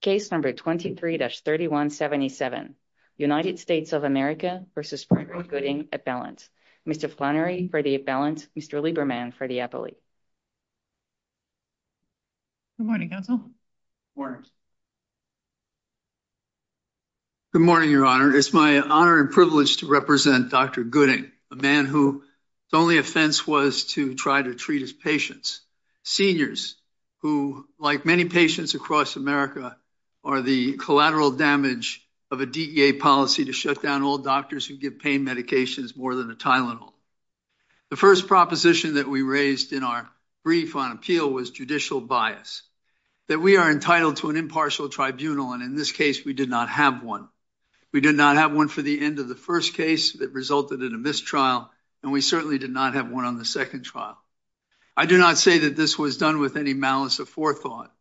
Case number 23-3177, United States of America v. Frederick Gooding, at balance. Mr. Flannery, for the at balance. Mr. Lieberman, for the appellate. Good morning, counsel. Good morning, your honor. It's my honor and privilege to represent Dr. Gooding, a man whose only offense was to try to treat his patients, seniors who, like many patients across America, are the collateral damage of a DEA policy to shut down all doctors who give pain medications more than a Tylenol. The first proposition that we raised in our brief on appeal was judicial bias, that we are entitled to an impartial tribunal, and in this case, we did not have one. We did not have one for the end of the first case that resulted in a mistrial, and we certainly did not have one on the second trial. I do not say that this was done with any forethought.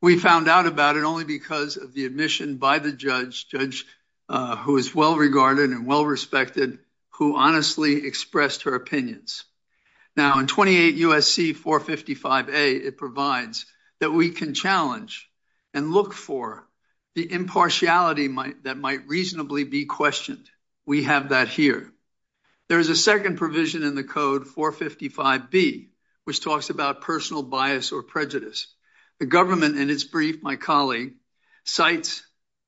We found out about it only because of the admission by the judge, judge who is well regarded and well respected, who honestly expressed her opinions. Now in 28 U.S.C. 455A, it provides that we can challenge and look for the impartiality that might reasonably be questioned. We have that here. There is a second provision in the code, 455B, which talks about personal bias or prejudice. The government, in its brief, my colleague, cites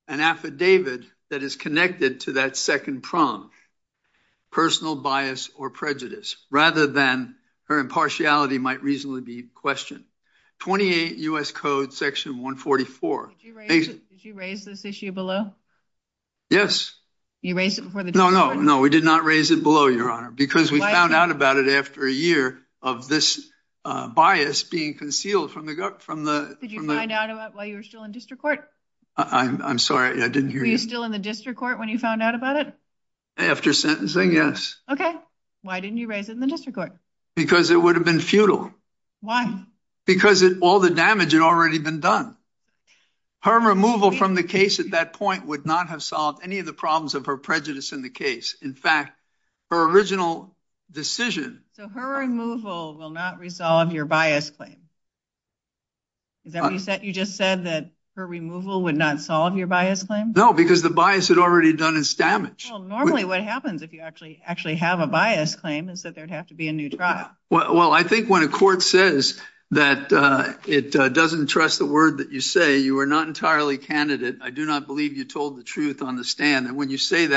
an affidavit that is connected to that second prong, personal bias or prejudice, rather than her impartiality might reasonably be questioned. 28 U.S. Code section 144. Did you raise this issue below? Yes. You raised it before the judgment? No, no, no, we did not raise it below, Your Honor, because we found out about it after a year of this bias being concealed from the government. Did you find out about it while you were still in district court? I'm sorry, I didn't hear you. Were you still in the district court when you found out about it? After sentencing, yes. Okay. Why didn't you raise it in the district court? Because it would have been futile. Why? Because all the damage had already been done. Her removal from the case at that point would not have solved any of the So her removal will not resolve your bias claim? You just said that her removal would not solve your bias claim? No, because the bias had already done its damage. Well, normally what happens if you actually have a bias claim is that there'd have to be a new trial. Well, I think when a court says that it doesn't trust the word that you say, you are not entirely candidate. I do not believe you told the truth on the stand. And when you say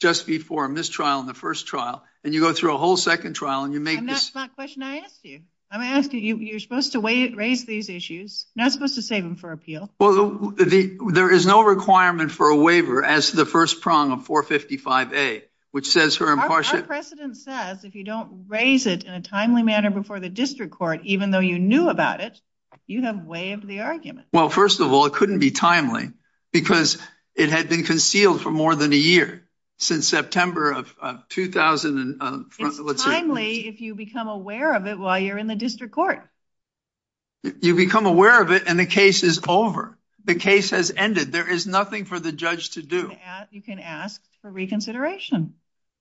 just before a mistrial in the first trial, and you go through a whole second trial. And that's not the question I asked you. I'm asking you, you're supposed to raise these issues. You're not supposed to save them for appeal. Well, there is no requirement for a waiver as the first prong of 455A. Our precedent says if you don't raise it in a timely manner before the district court, even though you knew about it, you have waived the argument. Well, first of all, it couldn't be a year since September of 2000. It's timely if you become aware of it while you're in the district court. You become aware of it and the case is over. The case has ended. There is nothing for the judge to do. You can ask for reconsideration.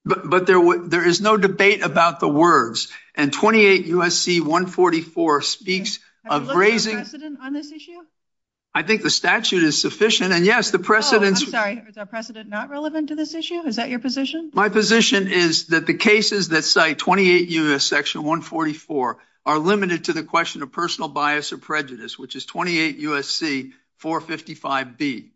But there is no debate about the words. And 28 USC 144 speaks of raising precedent on this issue. I think the statute is sufficient. And yes, is our precedent not relevant to this issue? Is that your position? My position is that the cases that cite 28 U.S. section 144 are limited to the question of personal bias or prejudice, which is 28 USC 455B.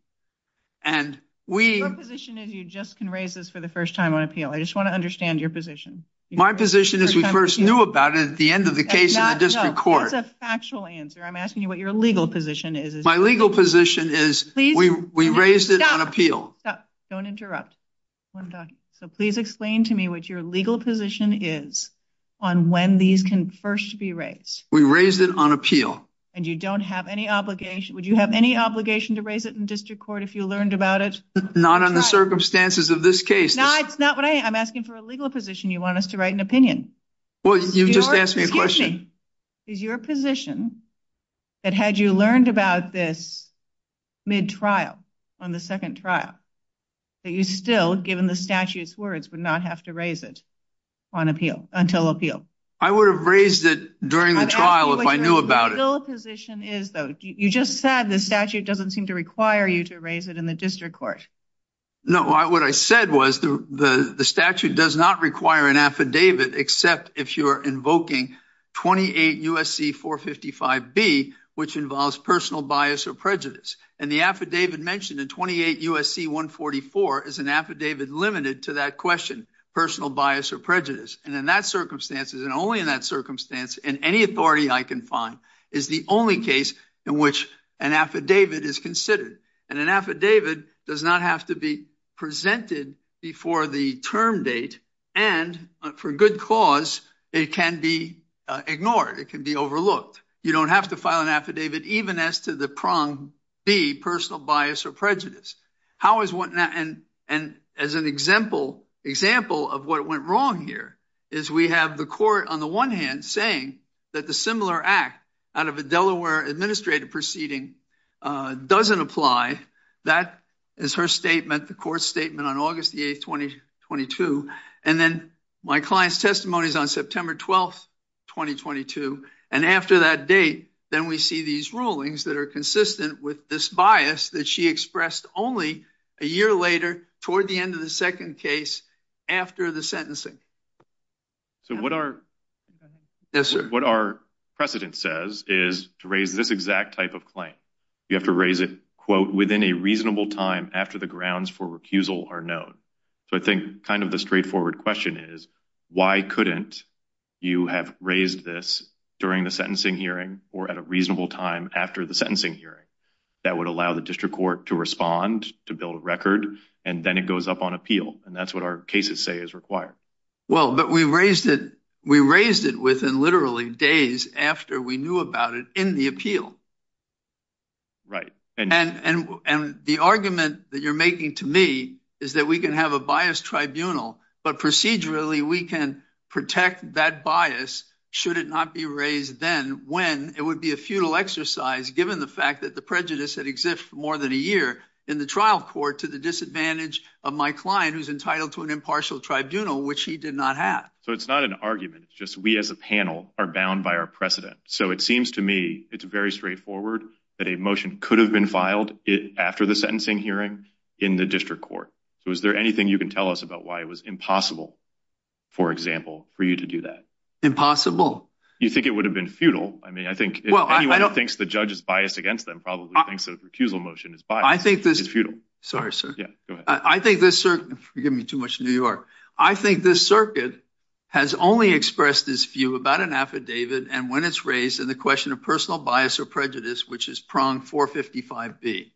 Your position is you just can raise this for the first time on appeal. I just want to understand your position. My position is we first knew about it at the end of the case in the district court. That's a factual answer. I'm asking you what your legal position is. My legal position is we we raised it on appeal. Don't interrupt. So please explain to me what your legal position is on when these can first be raised. We raised it on appeal. And you don't have any obligation. Would you have any obligation to raise it in district court if you learned about it? Not on the circumstances of this case. Now, it's not what I'm asking for a legal position. You want us to write an opinion? Well, you just asked me a question. Is your position that had you learned about this mid-trial, on the second trial, that you still, given the statute's words, would not have to raise it on appeal, until appeal? I would have raised it during the trial if I knew about it. You just said the statute doesn't seem to require you to raise it in the district court. No, what I said was the statute does not require an affidavit except if you're invoking 28 U.S.C. 455B, which involves personal bias or prejudice. And the affidavit mentioned in 28 U.S.C. 144 is an affidavit limited to that question, personal bias or prejudice. And in that circumstances, and only in that circumstance, in any authority I can find, is the only case in which an affidavit is considered. And an affidavit does not have to be it can be ignored. It can be overlooked. You don't have to file an affidavit even as to the prong B, personal bias or prejudice. And as an example of what went wrong here, is we have the court, on the one hand, saying that the similar act out of a Delaware administrative proceeding doesn't apply. That is her statement, the court's statement, on August the 8th, 2022. And then my client's testimony is on September 12th, 2022. And after that date, then we see these rulings that are consistent with this bias that she expressed only a year later, toward the end of the second case, after the sentencing. So what our precedent says is to raise this exact type of claim. You have to raise it, quote, within a reasonable time after the straightforward question is, why couldn't you have raised this during the sentencing hearing, or at a reasonable time after the sentencing hearing? That would allow the district court to respond, to build a record, and then it goes up on appeal. And that's what our cases say is required. Well, but we raised it, we raised it within literally days after we knew about it in the appeal. Right. And, and, and the argument that you're making to me is that we can have a bias tribunal, but procedurally, we can protect that bias, should it not be raised then, when it would be a futile exercise, given the fact that the prejudice that exists for more than a year in the trial court, to the disadvantage of my client, who's entitled to an impartial tribunal, which he did not have. So it's not an argument. It's just, we as a panel are bound by our precedent. So it seems to me, it's very straightforward that a motion could have been filed after the impossible, for example, for you to do that. Impossible. You think it would have been futile. I mean, I think anyone who thinks the judge is biased against them probably thinks that the recusal motion is biased. I think this is futile. Sorry, sir. Yeah, go ahead. I think this circuit, forgive me too much, New York. I think this circuit has only expressed this view about an affidavit. And when it's raised in the question of personal bias or prejudice, which is pronged 455B.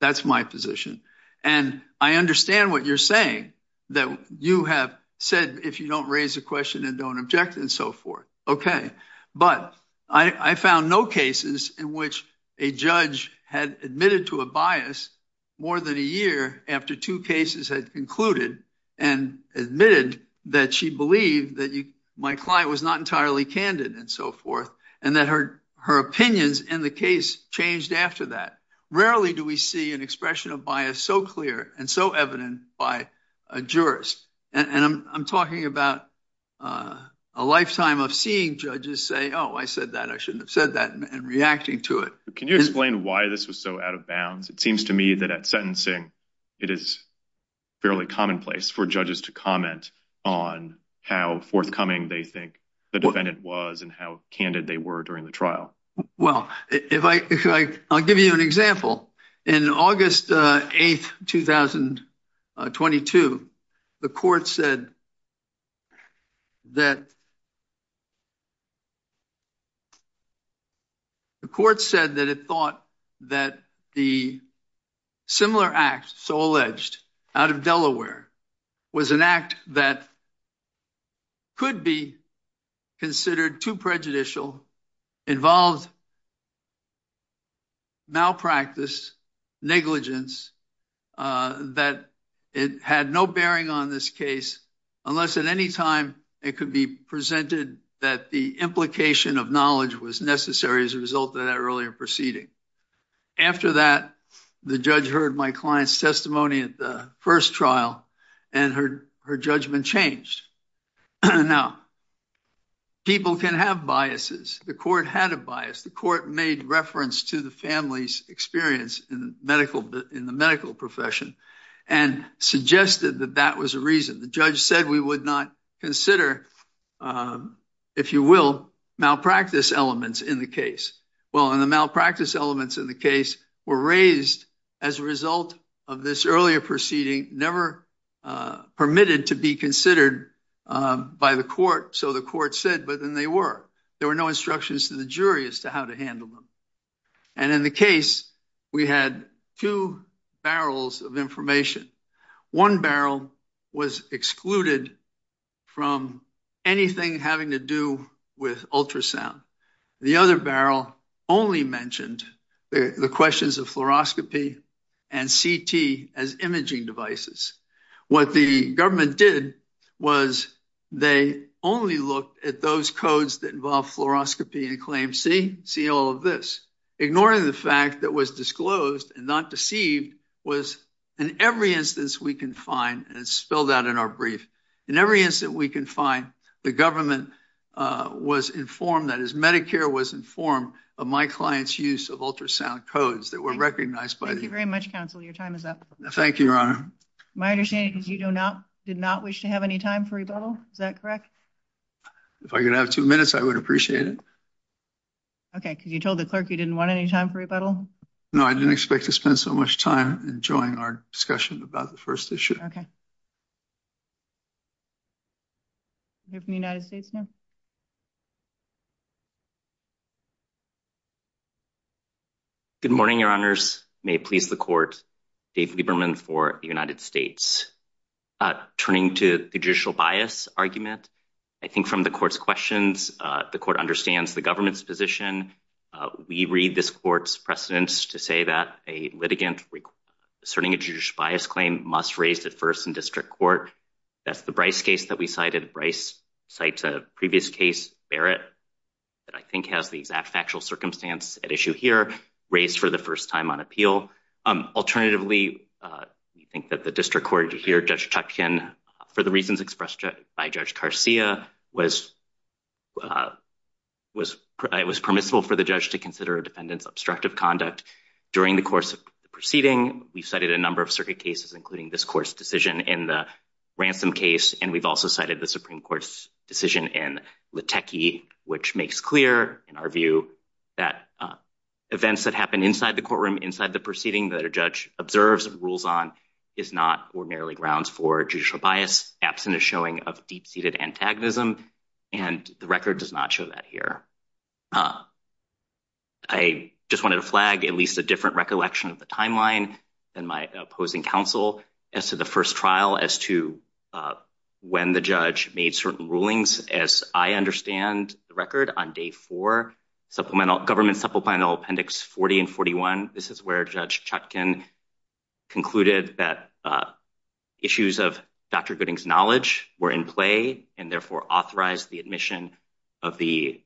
That's my position. And I understand what you're saying, that you have said, if you don't raise a question and don't object and so forth. Okay. But I found no cases in which a judge had admitted to a bias more than a year after two cases had concluded and admitted that she believed that my client was not entirely candid and so forth. And that her opinions in the changed after that. Rarely do we see an expression of bias so clear and so evident by a jurist. And I'm talking about a lifetime of seeing judges say, oh, I said that I shouldn't have said that and reacting to it. Can you explain why this was so out of bounds? It seems to me that at sentencing, it is fairly commonplace for judges to comment on how forthcoming they think the defendant was and how candid they were during the trial. Well, I'll give you an example. In August 8th, 2022, the court said that it thought that the similar act so alleged out of Delaware was an act that could be considered too prejudicial, involved malpractice, negligence, that it had no bearing on this case unless at any time it could be presented that the implication of knowledge was necessary as a result of that earlier proceeding. After that, the judge heard my client's testimony at the first trial and her judgment changed. Now, people can have biases. The court had a bias. The court made reference to the family's experience in the medical profession and suggested that that was a reason. The judge said we would not consider, if you will, malpractice elements in the case. Well, and the malpractice elements in the case were raised as a result of this earlier proceeding, never permitted to be considered by the court. So the court said, but then they were. There were no instructions to the jury as to how to handle them. And in the case, we had two barrels of information. One barrel was excluded from anything having to do with ultrasound. The other barrel only mentioned the questions of fluoroscopy and CT as imaging devices. What the government did was they only looked at those codes that involved fluoroscopy and claimed, see, see all of this. Ignoring the fact that was disclosed and not deceived was in every instance we can find, and it's spelled out in our brief, in every instance we can find, the government was informed, that is, Medicare was informed of my client's use of ultrasound codes that were recognized. Thank you very much, counsel. Your time is up. Thank you, your honor. My understanding is you do not, did not wish to have any time for rebuttal. Is that correct? If I could have two minutes, I would appreciate it. Okay, because you told the clerk you didn't want any time for rebuttal? No, I didn't expect to spend so much time enjoying our discussion about the first issue. Okay. We have the United States now. Good morning, your honors. May it please the court, Dave Lieberman for the United States. Turning to the judicial bias argument, I think from the court's questions, the court understands the government's position. We read this court's precedents to say that a that's the Bryce case that we cited. Bryce cites a previous case, Barrett, that I think has the exact factual circumstance at issue here, raised for the first time on appeal. Alternatively, we think that the district court here, Judge Tuchkin, for the reasons expressed by Judge Garcia, it was permissible for the judge to consider a defendant's obstructive conduct during the course of the proceeding. We've cited a number of circuit cases, including this court's decision in the Ransom case, and we've also cited the Supreme Court's decision in Liteki, which makes clear, in our view, that events that happen inside the courtroom, inside the proceeding that a judge observes and rules on is not ordinarily grounds for judicial bias, absent a showing of deep-seated antagonism, and the record does not show that here. I just wanted to flag at least a different recollection of the timeline and my opposing counsel as to the first trial, as to when the judge made certain rulings, as I understand the record on day four, Government Supplemental Appendix 40 and 41. This is where Judge Tuchkin concluded that issues of Dr. Gooding's knowledge were in play and therefore authorized the admission of the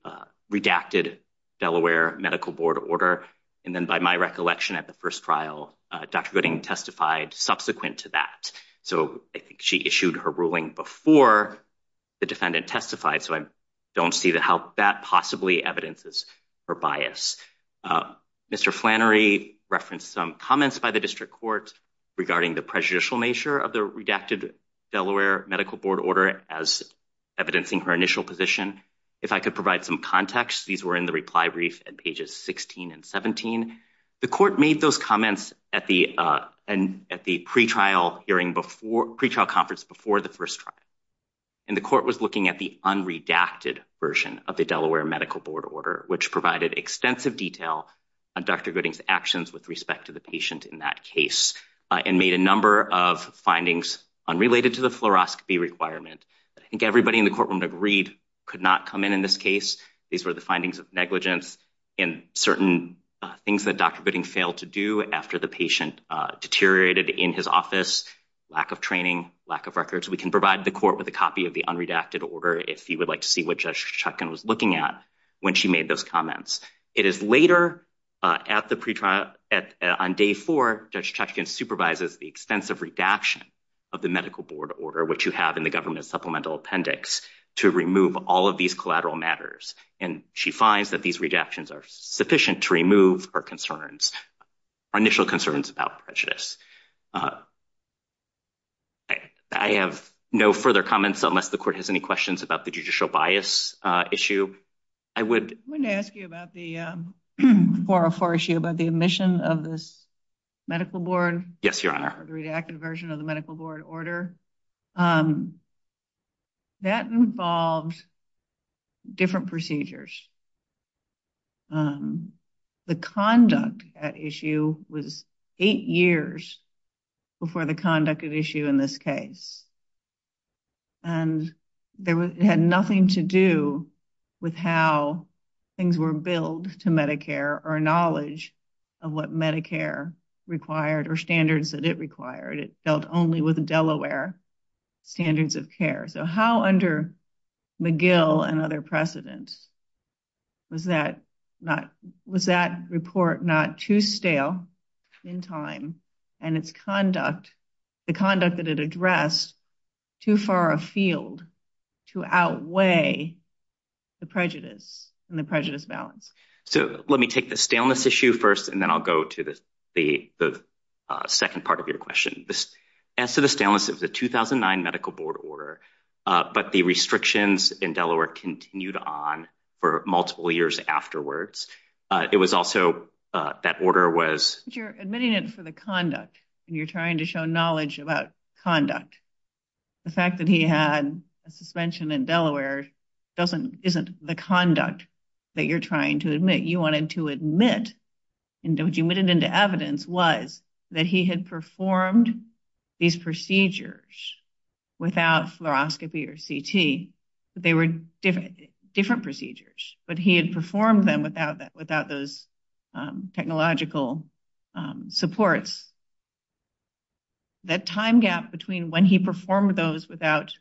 redacted Delaware Medical Board order, and then by my recollection at the first trial, Dr. Gooding testified subsequent to that, so I think she issued her ruling before the defendant testified, so I don't see how that possibly evidences her bias. Mr. Flannery referenced some comments by the District Court regarding the prejudicial nature of the redacted Delaware Medical Board order as evidencing her initial position. If I could provide some context, these were in the reply brief at pages 16 and 17. The court made those comments at the pre-trial conference before the first trial, and the court was looking at the unredacted version of the Delaware Medical Board order, which provided extensive detail on Dr. Gooding's actions with respect to the patient in that case and made a number of findings unrelated to the fluoroscopy requirement. I think everybody in the courtroom agreed could not come in in this case. These were the findings of negligence and certain things that Dr. Gooding failed to do after the patient deteriorated in his office, lack of training, lack of records. We can provide the court with a copy of the unredacted order if you would like to see what Judge Chutkan was looking at when she made those comments. It is later at the pre-trial, on day four, Judge Chutkan supervises the extensive redaction of the medical board order, which you have in the government supplemental appendix, to remove all of these collateral matters. And she finds that these redactions are sufficient to remove her concerns, her initial concerns about prejudice. I have no further comments unless the court has any questions about the judicial bias issue. I would ask you about the 404 issue about the omission of this medical board. Yes, your honor. The redacted version of the medical board order. That involved different procedures. The conduct at issue was eight years before the conduct at issue in this case. And it had nothing to do with how things were billed to Medicare or knowledge of what Medicare required or standards that it required. It dealt only with Delaware standards of care. So how under McGill and other precedents was that report not too stale in time and its conduct, the conduct that it addressed, too far afield to outweigh the prejudice and the prejudice balance? So let me take the staleness issue first, and then I'll go to the second part of your question. As to the staleness of the 2009 medical board order, but the restrictions in Delaware continued on for multiple years afterwards. It was also, that order was... You're admitting it for the conduct, and you're trying to show knowledge about conduct. The fact that he had a suspension in Delaware isn't the conduct that you're trying to admit. You wanted to admit, and you admitted into evidence was that he had performed these procedures without fluoroscopy or CT. They were different procedures, but he had performed them without those technological supports. That time gap between when he performed those without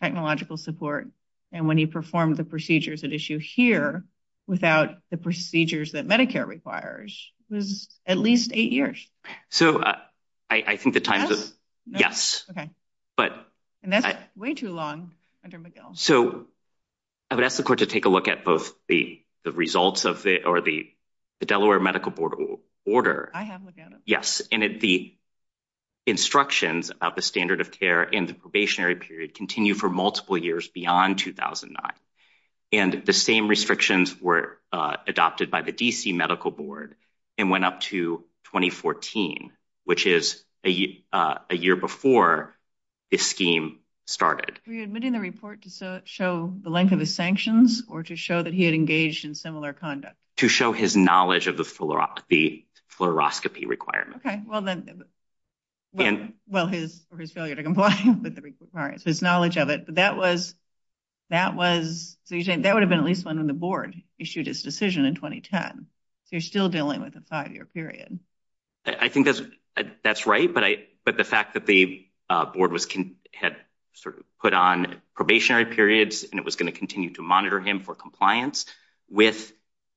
technological support and when he performed the procedures at issue here without the procedures that Medicare requires was at least eight years. So I think the time... Yes? Yes. Okay. And that's way too long under McGill. So I would ask the court to take a look at both the results of the Delaware Medical Board order. I have looked at it. Yes. And the instructions about the standard of care and the probationary period continue for multiple years beyond 2009. And the same restrictions were adopted by the DC Medical Board and went up to 2014, which is a year before this scheme started. Were you admitting the report to show the length of the sanctions or to show that he had engaged in similar conduct? To show his knowledge of the fluoroscopy requirement. Okay. Well, his failure to comply with the requirements, his knowledge of it. But that was... So you're saying that would have been at least when the board issued its decision in 2010. So you're still dealing with a five-year period. I think that's right. But the fact that the board had sort of put on probationary periods and it was going to continue to monitor him for compliance with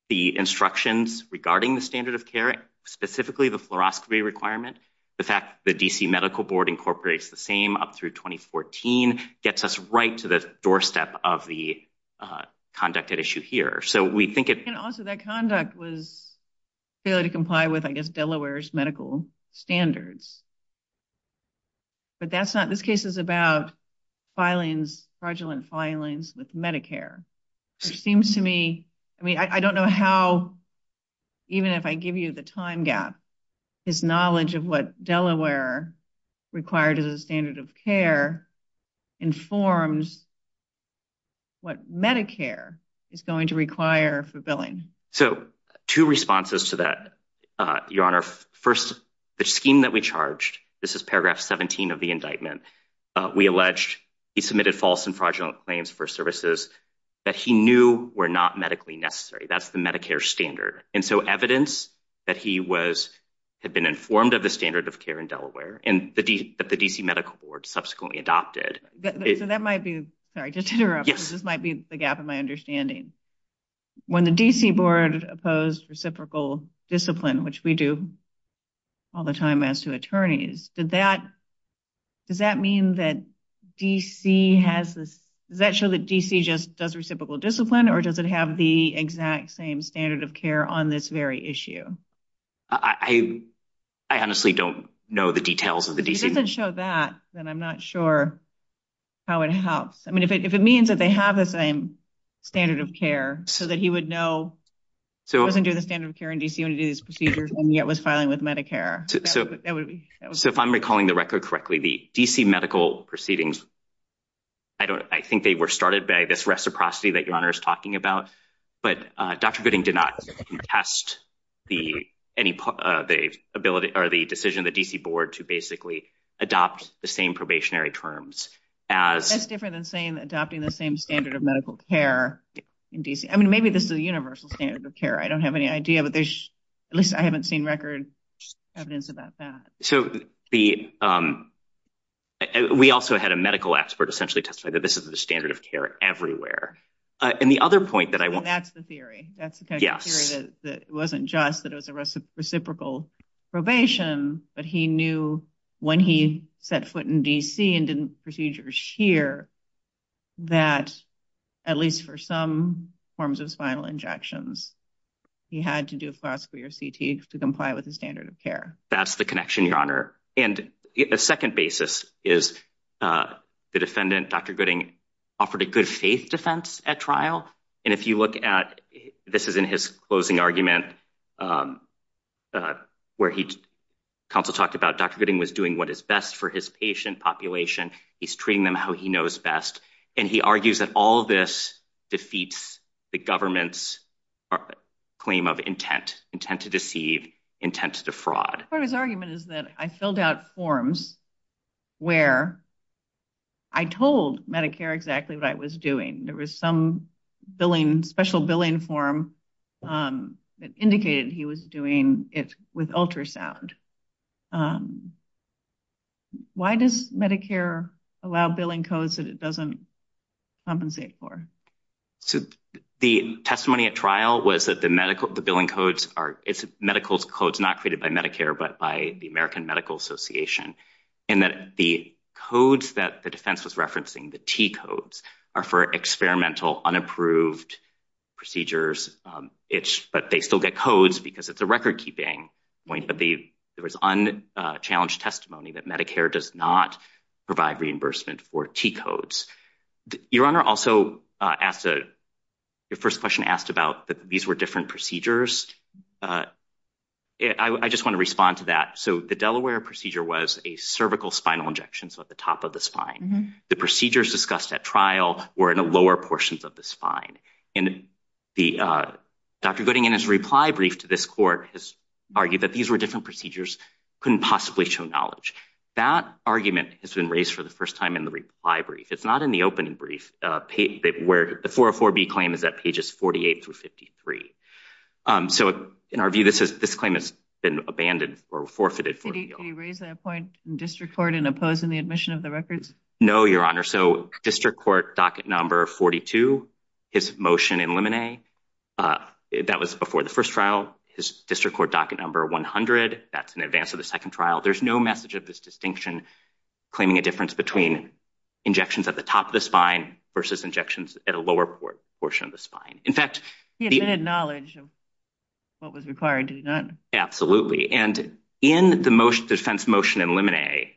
the instructions regarding the standard of care, specifically the fluoroscopy requirement, the fact that the DC Medical Board incorporates the same up through 2014 gets us right to the doorstep of the conduct at issue here. So we think it... Delaware's medical standards. But that's not... This case is about filings, fraudulent filings with Medicare, which seems to me... I mean, I don't know how, even if I give you the time gap, his knowledge of what Delaware required as a standard of care informs what Medicare is going to require for billing. So two responses to that, Your Honor. First, the scheme that we charged, this is paragraph 17 of the indictment, we alleged he submitted false and fraudulent claims for services that he knew were not medically necessary. That's the Medicare standard. And so evidence that he had been informed of the standard of care in Delaware, and that the DC Medical Board subsequently adopted... So that might be... Sorry, just to interrupt. Yes. This might be the gap in my understanding. When the DC Board opposed reciprocal discipline, which we do all the time as to attorneys, does that mean that DC has this... Does that show that DC just does reciprocal discipline, or does it have the exact same standard of care on this very issue? I honestly don't know the details of the DC... If it doesn't show that, then I'm not sure how it helps. I mean, if it means that they have the same standard of care, so that he would know he wasn't doing the standard of care in DC when he was doing these procedures, and yet was filing with Medicare, that would be... So if I'm recalling the record correctly, the DC Medical Proceedings, I think they were started by this reciprocity that Your Honor is talking about. But Dr. Gooding did not contest the decision of the DC Board to basically adopt the same probationary terms as... That's different than saying adopting the same standard of medical care in DC. I mean, maybe this is a universal standard of care. I don't have any idea, but there's... At least I haven't seen record evidence about that. So we also had a medical expert essentially testify that this is the standard of care everywhere. And the other point that I want... That's the theory. That's the kind of theory that it wasn't just that it was a reciprocal probation, but he knew when he set foot in DC and did procedures here, that at least for some forms of spinal injections, he had to do a FOSC or CT to comply with the standard of care. That's the connection, Your Honor. And a second basis is the defendant, Dr. Gooding, offered a good faith defense at trial. And if you look at... This is in his closing argument where counsel talked about Dr. Gooding was doing what is best for his patient population. He's treating them how he knows best. And he argues that all of this defeats the government's claim of intent, intent to deceive, intent to defraud. Part of his argument is that I filled out forms where I told Medicare exactly what I was doing. There was some special billing form that indicated he was doing it with ultrasound. Why does Medicare allow billing codes that it doesn't compensate for? So the testimony at trial was that the billing codes are medical codes not created by Medicare, but by the American Medical Association. And that the codes that the defense was referencing, the T-codes, are for experimental, unapproved procedures. But they still get codes because it's a record-keeping point. There was unchallenged testimony that Medicare does not provide reimbursement for T-codes. Your Honor also asked... Your first question asked about that these were different procedures. I just want to respond to that. So the Delaware procedure was a cervical spinal injection, so at the top of the spine. The procedures discussed at trial were in the lower portions of the spine. And Dr. Gooding in his reply brief to this court has argued that these were different procedures, couldn't possibly show knowledge. That argument has been raised for the first time in the reply brief. It's not in the opening brief where the 404B claim is at pages 48 through 53. So in our view, this claim has been abandoned or forfeited. Did he raise that point in district court in opposing the admission of the records? No, Your Honor. So district court docket number 42, his motion in limine, that was before the first trial. His district court docket number 100, that's in advance of the second trial. There's no message of this distinction claiming a difference between injections at the top of the spine versus injections at a lower portion of the spine. He admitted knowledge of what was required, did he not? Absolutely. And in the defense motion in limine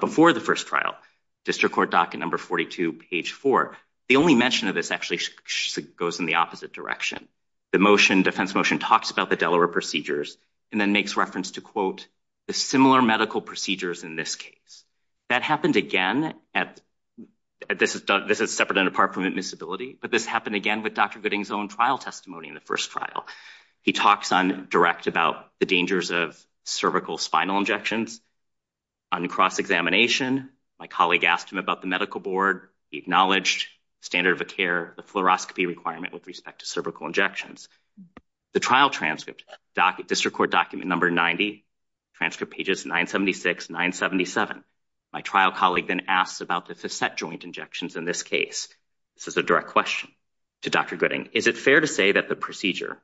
before the first trial, district court docket number 42, page four, the only mention of this actually goes in the opposite direction. The motion, defense motion, talks about the Delaware procedures and then makes reference to, quote, the similar medical procedures in this case. That happened again at, this is separate and apart from admissibility, but this happened again with Dr. Gooding's own trial testimony in the first trial. He talks on direct about the dangers of cervical spinal injections. On cross-examination, my colleague asked him about the medical board. He acknowledged standard of care, the fluoroscopy requirement with respect to cervical injections. The trial transcript, district court document number 90, transcript pages 976, 977. My trial colleague then asks about the facet joint injections in this case. This is a direct question to Dr. Gooding. Is it fair to say that the procedure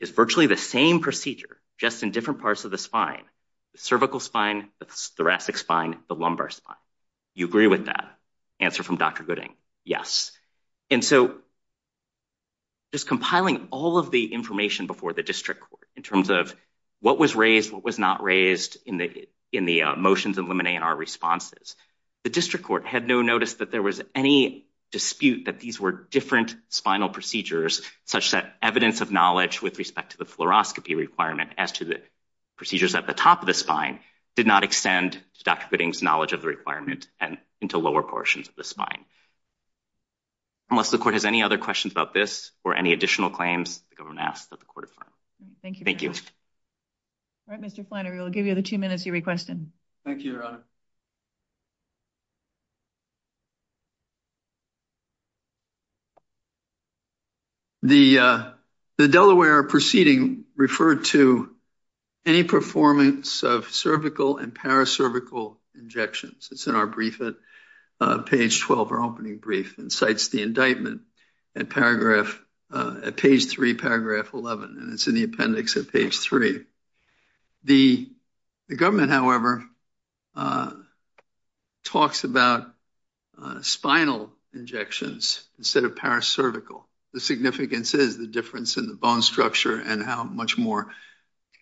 is virtually the same procedure, just in different parts of the spine, the cervical spine, the thoracic spine, the lumbar spine? You agree with that? Answer from Dr. Gooding, yes. And so just compiling all of the information before the district court in terms of what was raised, what was not raised in the motions in limine and our responses, the district court had no notice that there was any dispute that these were different spinal procedures such that evidence of knowledge with respect to the fluoroscopy requirement as to the procedures at the top of the spine did not extend to Dr. Gooding's knowledge of the requirement and into lower portions of the spine. Unless the court has any other questions about this or any additional claims, the government asks that the court affirm. Thank you. All right, Mr. Flannery, we'll give you the two minutes you requested. Thank you, Your Honor. The Delaware proceeding referred to any performance of cervical and paracervical injections. It's in our brief at page 12, our opening brief, and cites the indictment at page 3, paragraph 11, and it's in the appendix at page 3. The government, however, talks about spinal injections instead of paracervical. The significance is the difference in the bone structure and how much more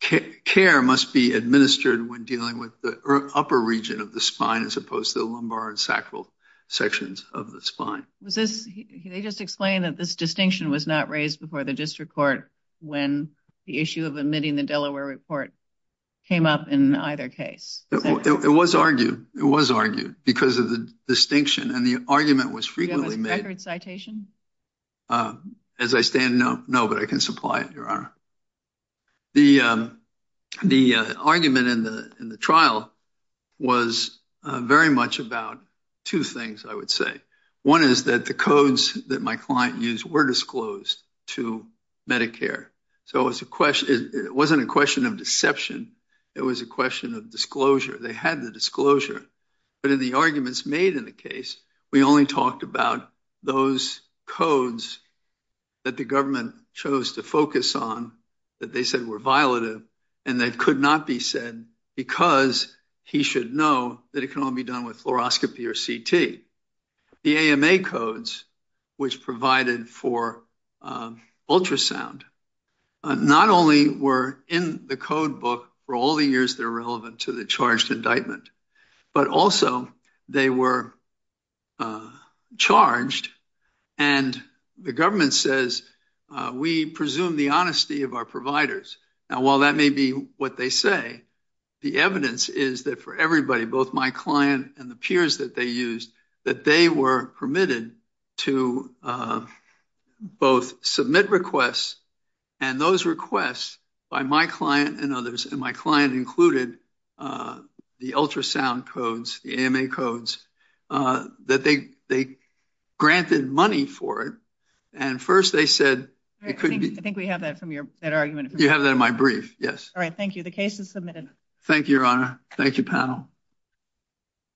care must be administered when dealing with the upper region of the spine as opposed to the lumbar and sacral sections of the spine. They just explained that this distinction was not raised before the district court when the issue of omitting the Delaware report came up in either case. It was argued. It was argued because of the distinction and the argument was frequently made. Do you have a record citation? As I stand, no, but I can supply it, Your Honor. The argument in the trial was very much about two things, I would say. One is that the codes that my client used were disclosed to Medicare. So it wasn't a question of deception. It was a question of disclosure. They had the disclosure. But in the arguments made in the case, we only talked about those codes that the government chose to focus on that they said were violative and that could not be said because he should know that it can only be done with fluoroscopy or CT. The AMA codes, which provided for ultrasound, not only were in the code book for all the years that are relevant to the charged indictment, but also they were charged and the government says we presume the honesty of our providers. Now, while that may be what they say, the evidence is that for everybody, both my client and the peers that they used, that they were permitted to both submit requests and those requests by my client and others, and my client included the ultrasound codes, the AMA codes, that they granted money for it. And first they said it could be. I think we have that argument. You have that in my brief, yes. All right. Thank you. The case is submitted. Thank you, Your Honor. Thank you, panel.